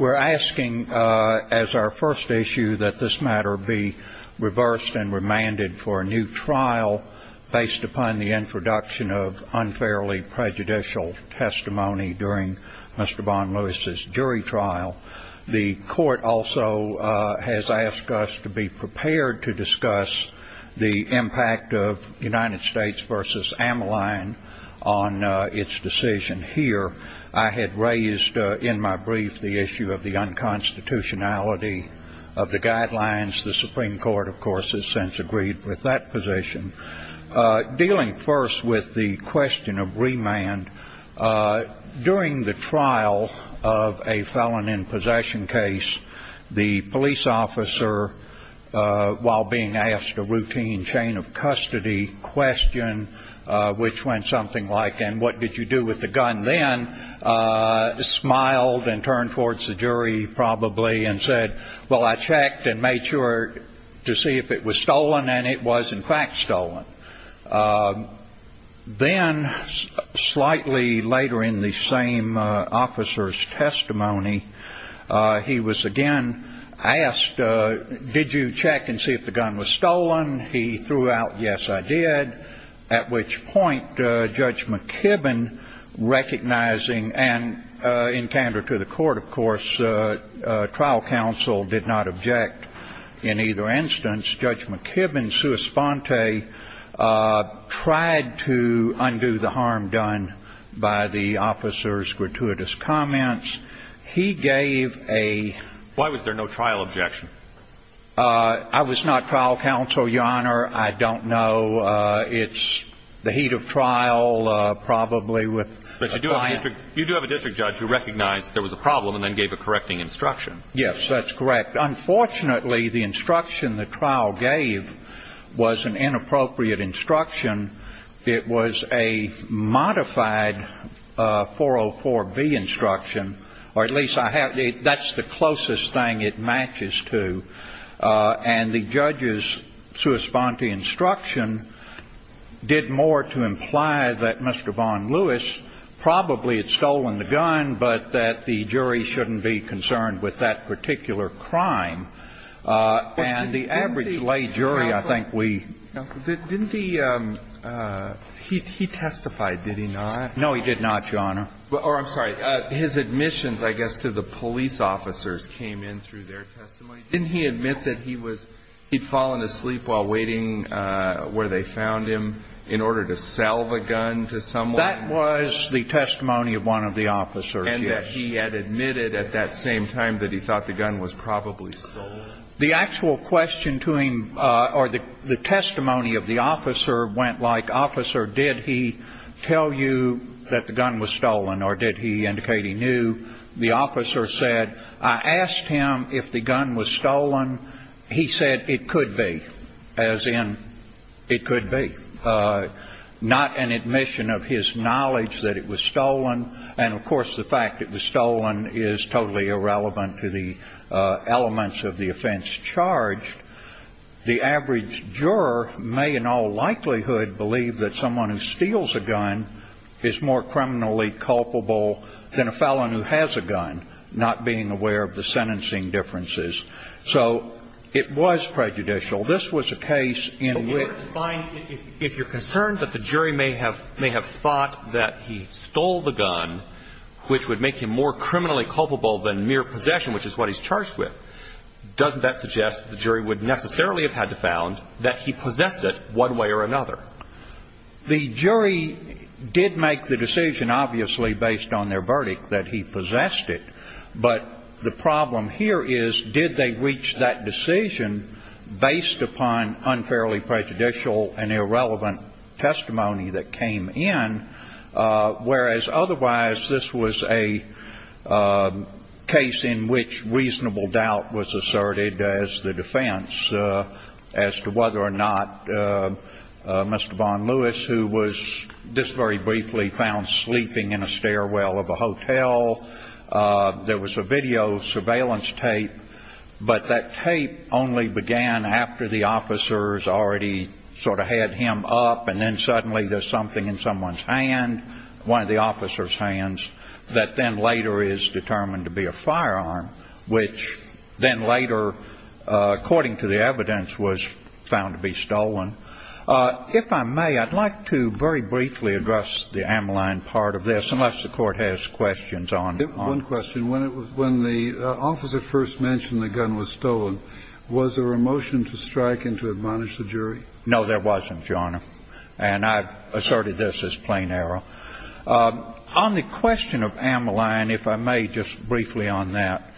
We're asking as our first issue that this matter be reversed and remanded for a new trial based upon the introduction of unfairly prejudicial testimony during Mr. Von Lewis's jury trial. The court also has asked us to be prepared to discuss the impact of United States v. Ammaline on its decision here. I had raised in my brief the issue of the unconstitutionality of the guidelines. The Supreme Court, of course, has since agreed with that position. Dealing first with the question of remand, during the trial of a felon-in-possession case, the police officer, while being asked a routine chain-of-custody question, which went something like, and what did you do with the gun then, smiled and turned towards the jury probably and said, well, I checked and made sure to see if it was stolen, and it was, in fact, stolen. Then slightly later in the same officer's testimony, he was again asked, did you check and see if the gun was stolen? He threw out, yes, I did, at which point Judge McKibben, recognizing and in candor to the court, of course, trial counsel did not object in either instance. Judge McKibben, sua sponte, tried to undo the harm done by the officer's gratuitous comments. He gave a ---- Why was there no trial objection? I was not trial counsel, Your Honor. I don't know. It's the heat of trial probably with a client. But you do have a district judge who recognized there was a problem and then gave a correcting instruction. Yes, that's correct. Unfortunately, the instruction the trial gave was an inappropriate instruction. It was a modified 404B instruction, or at least I have the ---- that's the closest thing it matches to. And the judge's sua sponte instruction did more to imply that Mr. Von Lewis probably had stolen the gun, but that the jury shouldn't be concerned with that particular crime, and the average lay jury, I think, we ---- He testified, did he not? No, he did not, Your Honor. Or, I'm sorry, his admissions, I guess, to the police officers came in through their testimony. Didn't he admit that he was ---- he'd fallen asleep while waiting where they found him in order to sell the gun to someone? That was the testimony of one of the officers, yes. And that he had admitted at that same time that he thought the gun was probably stolen? The actual question to him or the testimony of the officer went like, officer, did he tell you that the gun was stolen or did he indicate he knew? The officer said, I asked him if the gun was stolen. He said it could be, as in it could be. Not an admission of his knowledge that it was stolen. And, of course, the fact it was stolen is totally irrelevant to the elements of the offense charged. The average juror may in all likelihood believe that someone who steals a gun is more criminally culpable than a felon who has a gun, not being aware of the sentencing differences. So it was prejudicial. This was a case in which ---- But in order to find ---- if you're concerned that the jury may have thought that he stole the gun, which would make him more criminally culpable than mere possession, which is what he's charged with, doesn't that suggest the jury would necessarily have had to found that he possessed it one way or another? The jury did make the decision, obviously, based on their verdict that he possessed it. But the problem here is, did they reach that decision based upon unfairly prejudicial and irrelevant testimony that came in, whereas otherwise this was a case in which reasonable doubt was asserted as the defense as to whether or not Mr. Von Lewis, who was just very briefly found sleeping in a stairwell of a hotel, there was a video surveillance tape, but that tape only began after the officers already sort of had him up, and then suddenly there's something in someone's hand, one of the officer's hands, that then later is determined to be a firearm, which then later, according to the evidence, was found to be stolen. If I may, I'd like to very briefly address the amyline part of this, unless the Court has questions on ---- One question. When the officer first mentioned the gun was stolen, was there a motion to strike and to admonish the jury? No, there wasn't, Your Honor. And I've asserted this as plain error. On the question of amyline, if I may just briefly on that,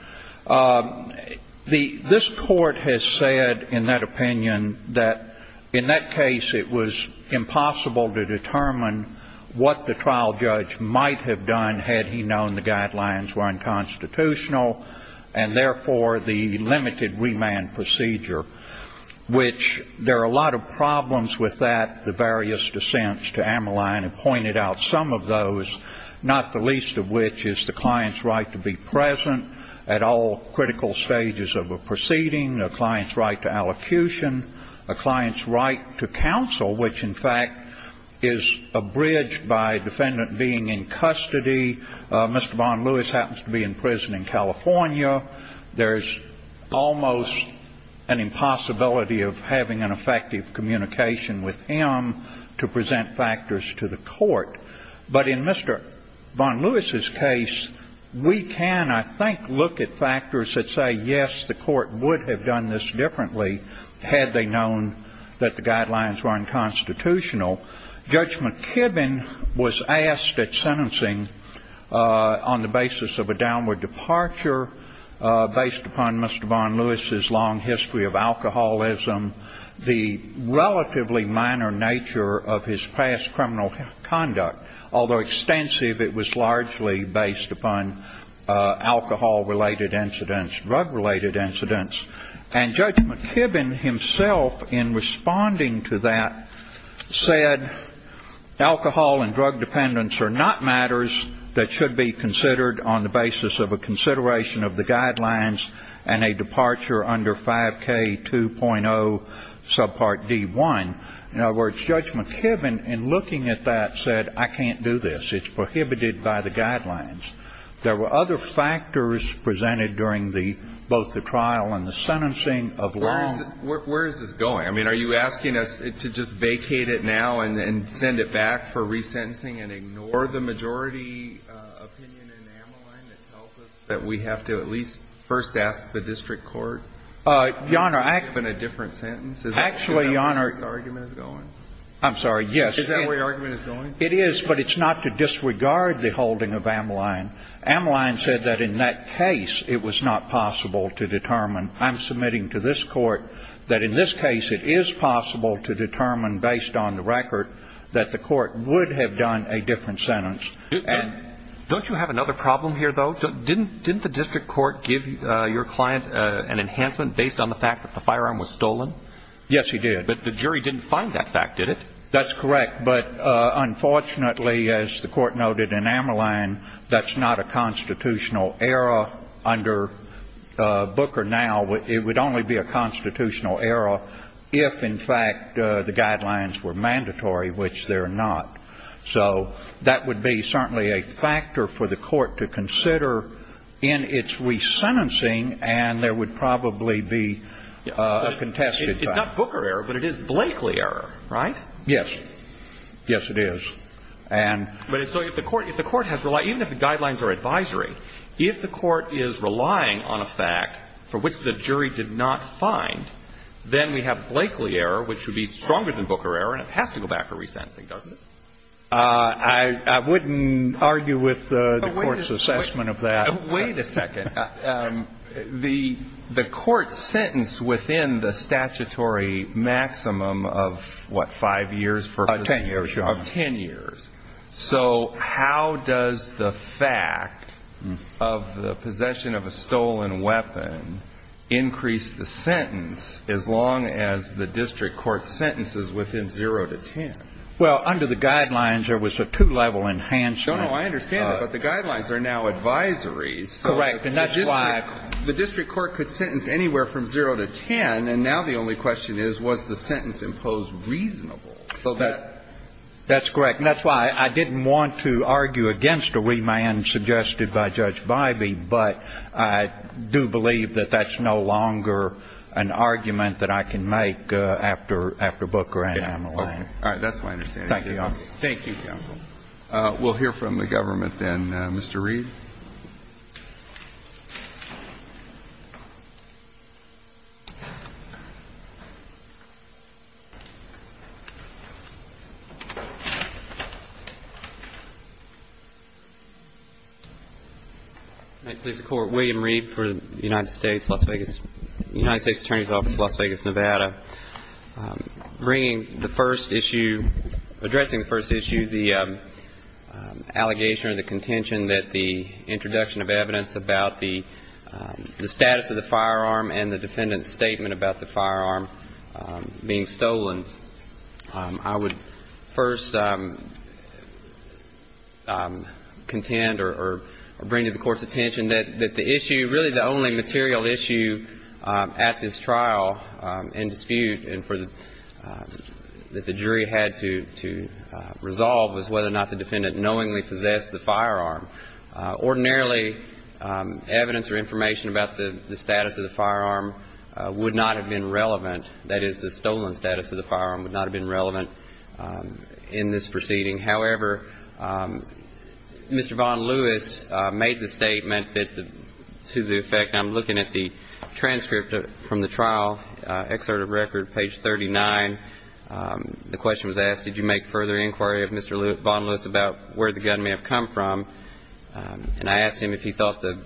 the ---- this Court has said in that opinion that in that case, it was impossible to determine what the trial judge might have done had he known the guidelines were unconstitutional and, therefore, the limited remand procedure, which there are a lot of problems with that, the various dissents to amyline have pointed out some of those, not the least of which is the client's right to be present at all critical stages of a proceeding, a client's right to allocution, a client's right to counsel, which, in fact, is abridged by defendant being in custody. Mr. Von Lewis happens to be in prison in California. There's almost an impossibility of having an effective communication with him to present factors to the court. But in Mr. Von Lewis's case, we can, I think, look at factors that say, yes, the court would have done this differently had they known that the guidelines were unconstitutional. Judge McKibbin was asked at sentencing on the basis of a downward departure based upon Mr. Von Lewis's long history of alcoholism, the relatively minor nature of his past criminal conduct, although extensive, it was largely based upon alcohol-related incidents, drug-related incidents. And Judge McKibbin himself, in responding to that, said alcohol and drug dependence are not matters that should be considered on the basis of a consideration of the guidelines and a departure under 5K2.0 subpart D1. In other words, Judge McKibbin, in looking at that, said, I can't do this. It's prohibited by the guidelines. There were other factors presented during the, both the trial and the sentencing of Long. Where is this going? I mean, are you asking us to just vacate it now and then send it back for resentencing and ignore the majority opinion in Ameline that tells us that we have to at least first ask the district court? Your Honor, I have a different sentence. Actually, Your Honor. Is that where this argument is going? I'm sorry. Yes. Is that where your argument is going? It is, but it's not to disregard the holding of Ameline. Ameline said that in that case it was not possible to determine. I'm submitting to this Court that in this case it is possible to determine based on the record that the Court would have done a different sentence. Don't you have another problem here, though? Didn't the district court give your client an enhancement based on the fact that the firearm was stolen? Yes, he did. But the jury didn't find that fact, did it? That's correct. But unfortunately, as the Court noted in Ameline, that's not a constitutional error under Booker now. It would only be a constitutional error if, in fact, the guidelines were mandatory, which they're not. So that would be certainly a factor for the Court to consider in its resentencing, and there would probably be a contested fact. It's not Booker error, but it is Blakely error, right? Yes. Yes, it is. And so if the Court has relied, even if the guidelines are advisory, if the Court is relying on a fact for which the jury did not find, then we have Blakely error, which would be stronger than Booker error, and it has to go back for resentencing, doesn't it? I wouldn't argue with the Court's assessment of that. Wait a second. The Court sentenced within the statutory maximum of, what, five years? Ten years, Your Honor. Of ten years. So how does the fact of the possession of a stolen weapon increase the sentence as long as the district court sentences within zero to ten? Well, under the guidelines, there was a two-level enhancement. No, no, I understand that, but the guidelines are now advisories. Correct. And that's why the district court could sentence anywhere from zero to ten, and now the only question is, was the sentence imposed reasonable? So that's correct. And that's why I didn't want to argue against a remand suggested by Judge Bybee, but I do believe that that's no longer an argument that I can make after Booker and Amelan. Okay. All right. That's my understanding. Thank you, Your Honor. Thank you, counsel. We'll hear from the government then. Mr. Reed. May it please the Court. William Reed for the United States Attorney's Office, Las Vegas, Nevada. Bringing the first issue, addressing the first issue, the allegation or the contention that the introduction of evidence about the status of the firearm and the defendant's statement about the firearm being stolen. I would first contend or bring to the Court's attention that the issue, really the only dispute that the jury had to resolve was whether or not the defendant knowingly possessed the firearm. Ordinarily, evidence or information about the status of the firearm would not have been relevant, that is, the stolen status of the firearm would not have been relevant in this proceeding. However, Mr. Von Lewis made the statement that to the effect, I'm looking at the record, page 39, the question was asked, did you make further inquiry of Mr. Von Lewis about where the gun may have come from? And I asked him if he thought the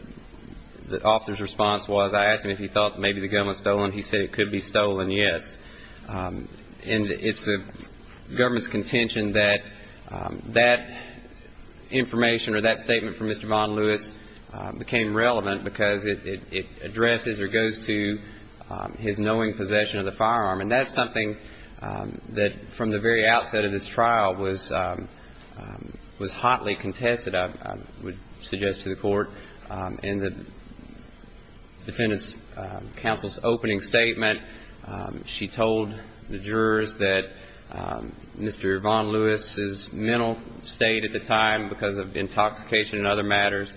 officer's response was, I asked him if he thought maybe the gun was stolen. He said it could be stolen, yes. And it's the government's contention that that information or that statement from Mr. Von Lewis became relevant because it addresses or goes to his knowing possession of the firearm. And that's something that from the very outset of this trial was hotly contested, I would suggest to the Court. In the defendant's counsel's opening statement, she told the jurors that Mr. Von Lewis's mental state at the time because of intoxication and other matters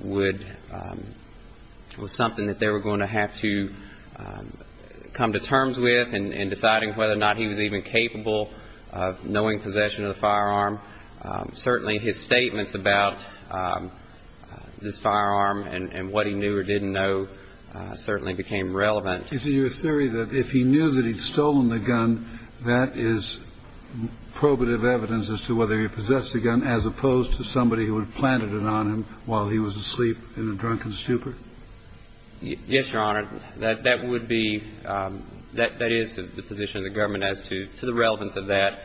would, was something that they were going to have to come to terms with in deciding whether or not he was even capable of knowing possession of the firearm. Certainly, his statements about this firearm and what he knew or didn't know certainly became relevant. Is it your theory that if he knew that he'd stolen the gun, that is probative evidence as to whether he possessed the gun as opposed to somebody who had planted it on him while he was asleep in a drunken stupor? Yes, Your Honor. That would be, that is the position of the government as to the relevance of that.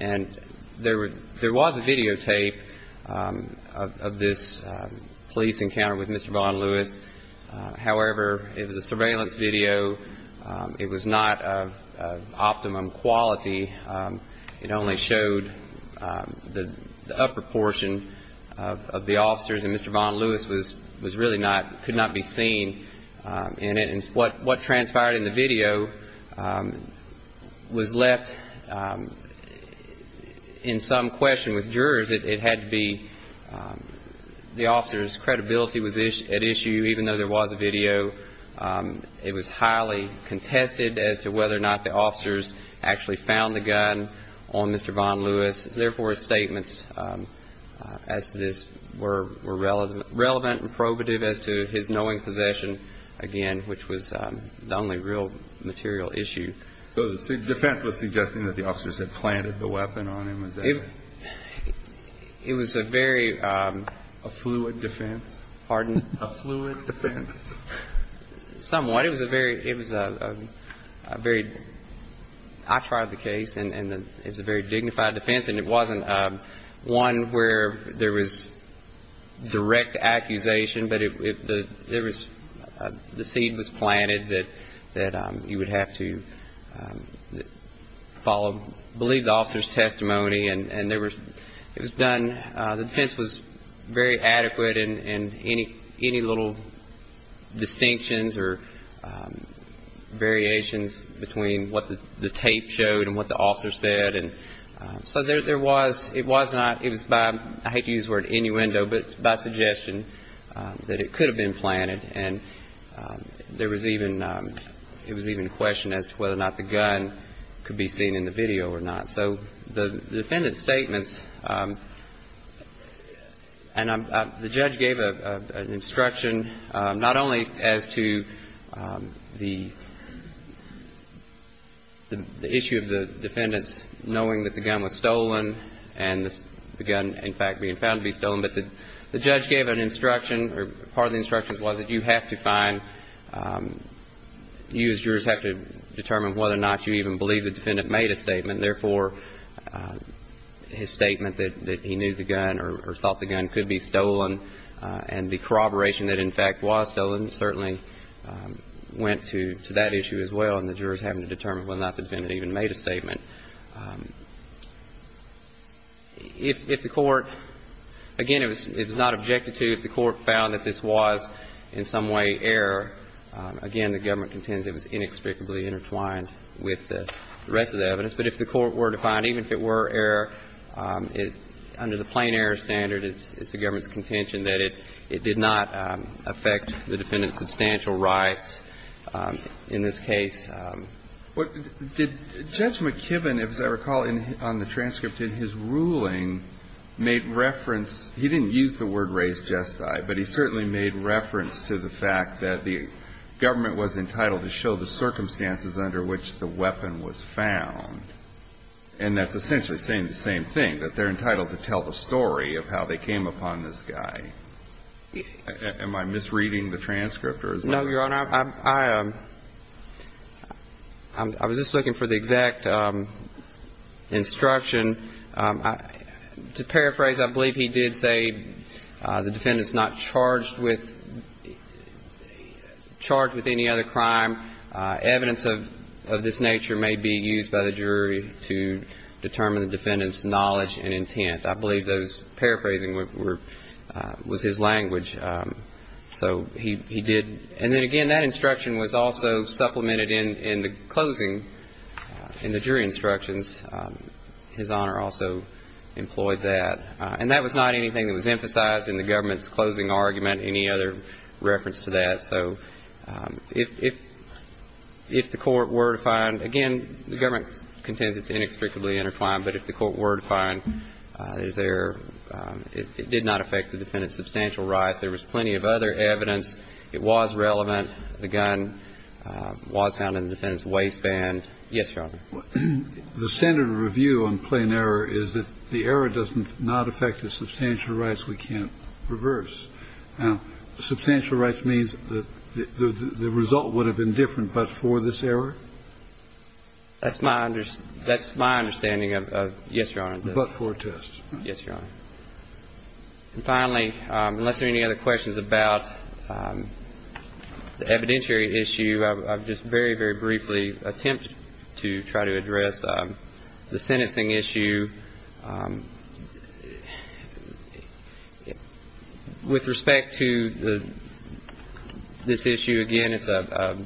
And there was a videotape of this police encounter with Mr. Von Lewis. However, it was a surveillance video. It was not of optimum quality. It only showed the upper portion of the officers. And Mr. Von Lewis was really not, could not be seen in it. And what transpired in the video was left in some question with jurors. It had to be the officer's credibility was at issue, even though there was a video. It was highly contested as to whether or not the officers actually found the gun on Mr. Von Lewis. Therefore, his statements as to this were relevant and probative as to his knowing possession, again, which was the only real material issue. So the defense was suggesting that the officers had planted the weapon on him. Was that it? It was a very... A fluid defense? Pardon? A fluid defense. Somewhat. It was a very, it was a very, I tried the case, and it was a very dignified defense. And it wasn't one where there was direct accusation, but there was, the seed was planted that you would have to follow, believe the officer's testimony. And there was, it was done. The defense was very adequate in any little distinctions or variations between what the tape showed and what the officer said. So there was, it was not, it was by, I hate to use the word innuendo, but by suggestion that it could have been planted. And there was even, it was even questioned as to whether or not the gun could be seen in the video or not. So the defendant's statements, and the judge gave an instruction not only as to the issue of the defendants knowing that the gun was stolen and the gun, in fact, being found to be stolen, but the judge gave an instruction, or part of the instruction was that you have to find, you as jurors have to determine whether or not you even believe the defendant even made a statement. If the court, again, it was not objected to. If the court found that this was in some way error, again, the government contends it was inextricably intertwined with the rest of the evidence. And so, again, if the court found, even if it were error, under the plain error standard, it's the government's contention that it did not affect the defendant's substantial rights in this case. But did Judge McKibben, as I recall on the transcript, in his ruling made reference he didn't use the word raised gesti, but he certainly made reference to the fact that the government was entitled to show the circumstances under which the weapon was found. And that's essentially saying the same thing, that they're entitled to tell the story of how they came upon this guy. Am I misreading the transcript? No, Your Honor. I was just looking for the exact instruction. To paraphrase, I believe he did say the defendant's not charged with any other crime. Evidence of this nature may be used by the jury to determine the defendant's knowledge and intent. I believe those paraphrasing was his language. So he did. And then, again, that instruction was also supplemented in the closing, in the jury instructions, his Honor also employed that. And that was not anything that was emphasized in the government's closing argument, any other reference to that. So if the court were to find, again, the government contends it's inextricably intertwined, but if the court were to find, is there, it did not affect the defendant's substantial rights. There was plenty of other evidence. It was relevant. The gun was found in the defendant's waistband. Yes, Your Honor. The standard review on plain error is that the error does not affect the substantial rights. We can't reverse. Now, substantial rights means that the result would have been different but for this error? That's my understanding of, yes, Your Honor. But for a test. Yes, Your Honor. And finally, unless there are any other questions about the evidentiary issue, I would just very, very briefly attempt to try to address the sentencing issue. With respect to this issue, again, it's a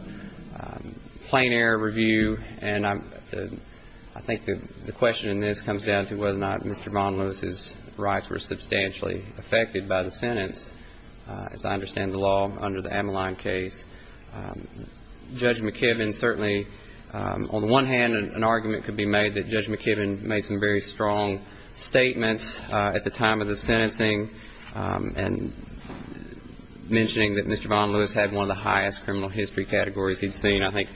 plain error review, and I think the question in this comes down to whether or not Mr. Von Lewis's rights were substantially affected by the sentence. As I understand the law under the Ammaline case, Judge McKibben certainly, on the one hand, an argument could be made that Judge McKibben made some very strong statements at the time of the sentencing and mentioning that Mr. Von Lewis had one of the highest criminal history categories he'd seen, I think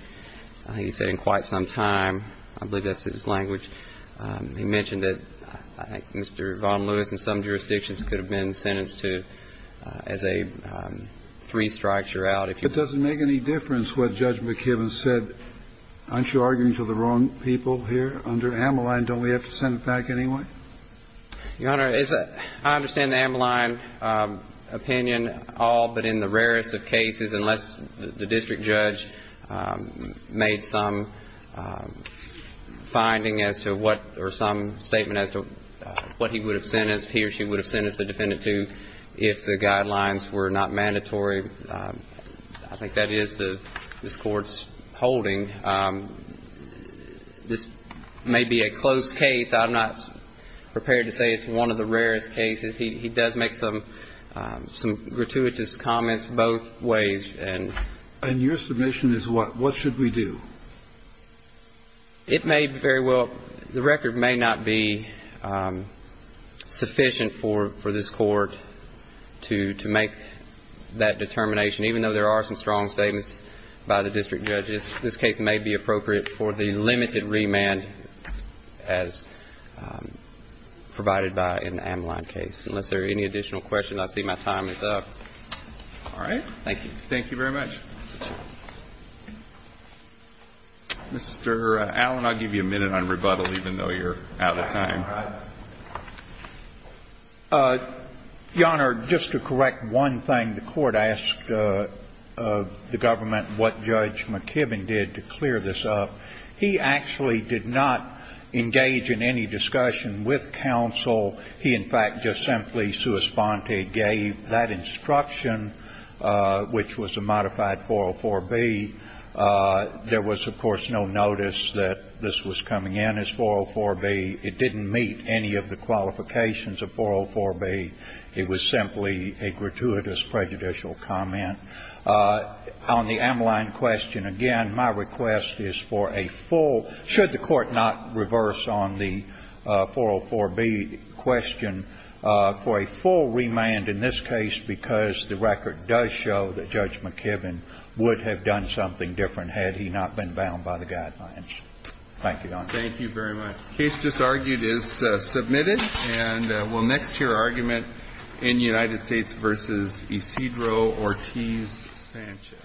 he said in quite some time. I believe that's his language. He mentioned that I think Mr. Von Lewis in some jurisdictions could have been sentenced to as a three strikes you're out. But does it make any difference what Judge McKibben said? Aren't you arguing to the wrong people here? Under Ammaline, don't we have to send it back anyway? Your Honor, I understand the Ammaline opinion all but in the rarest of cases unless the district judge made some finding as to what or some statement as to what he would have sentenced, he or she would have sentenced the defendant to if the guidelines were not mandatory. I think that is this Court's holding. This may be a close case. I'm not prepared to say it's one of the rarest cases. He did make some gratuitous comments both ways. And your submission is what should we do? It may very well ‑‑ the record may not be sufficient for this Court to make that determination, even though there are some strong statements by the district judges. This case may be appropriate for the limited remand as provided by an Ammaline case, unless there are any additional questions. I see my time is up. All right. Thank you. Thank you very much. Mr. Allen, I'll give you a minute on rebuttal, even though you're out of time. Your Honor, just to correct one thing, the Court asked the government what Judge McKibbin did to clear this up. He actually did not engage in any discussion with counsel. He, in fact, just simply sua sponte gave that instruction, which was a modified 404B. There was, of course, no notice that this was coming in as 404B. It didn't meet any of the qualifications of 404B. It was simply a gratuitous prejudicial comment. On the Ammaline question, again, my request is for a full ‑‑ should the Court not reverse on the 404B question, for a full remand in this case, because the record does show that Judge McKibbin would have done something different had he not been bound by the guidelines. Thank you, Your Honor. Thank you very much. The case just argued is submitted. And we'll next hear argument in United States v. Isidro, Ortiz, Sanchez.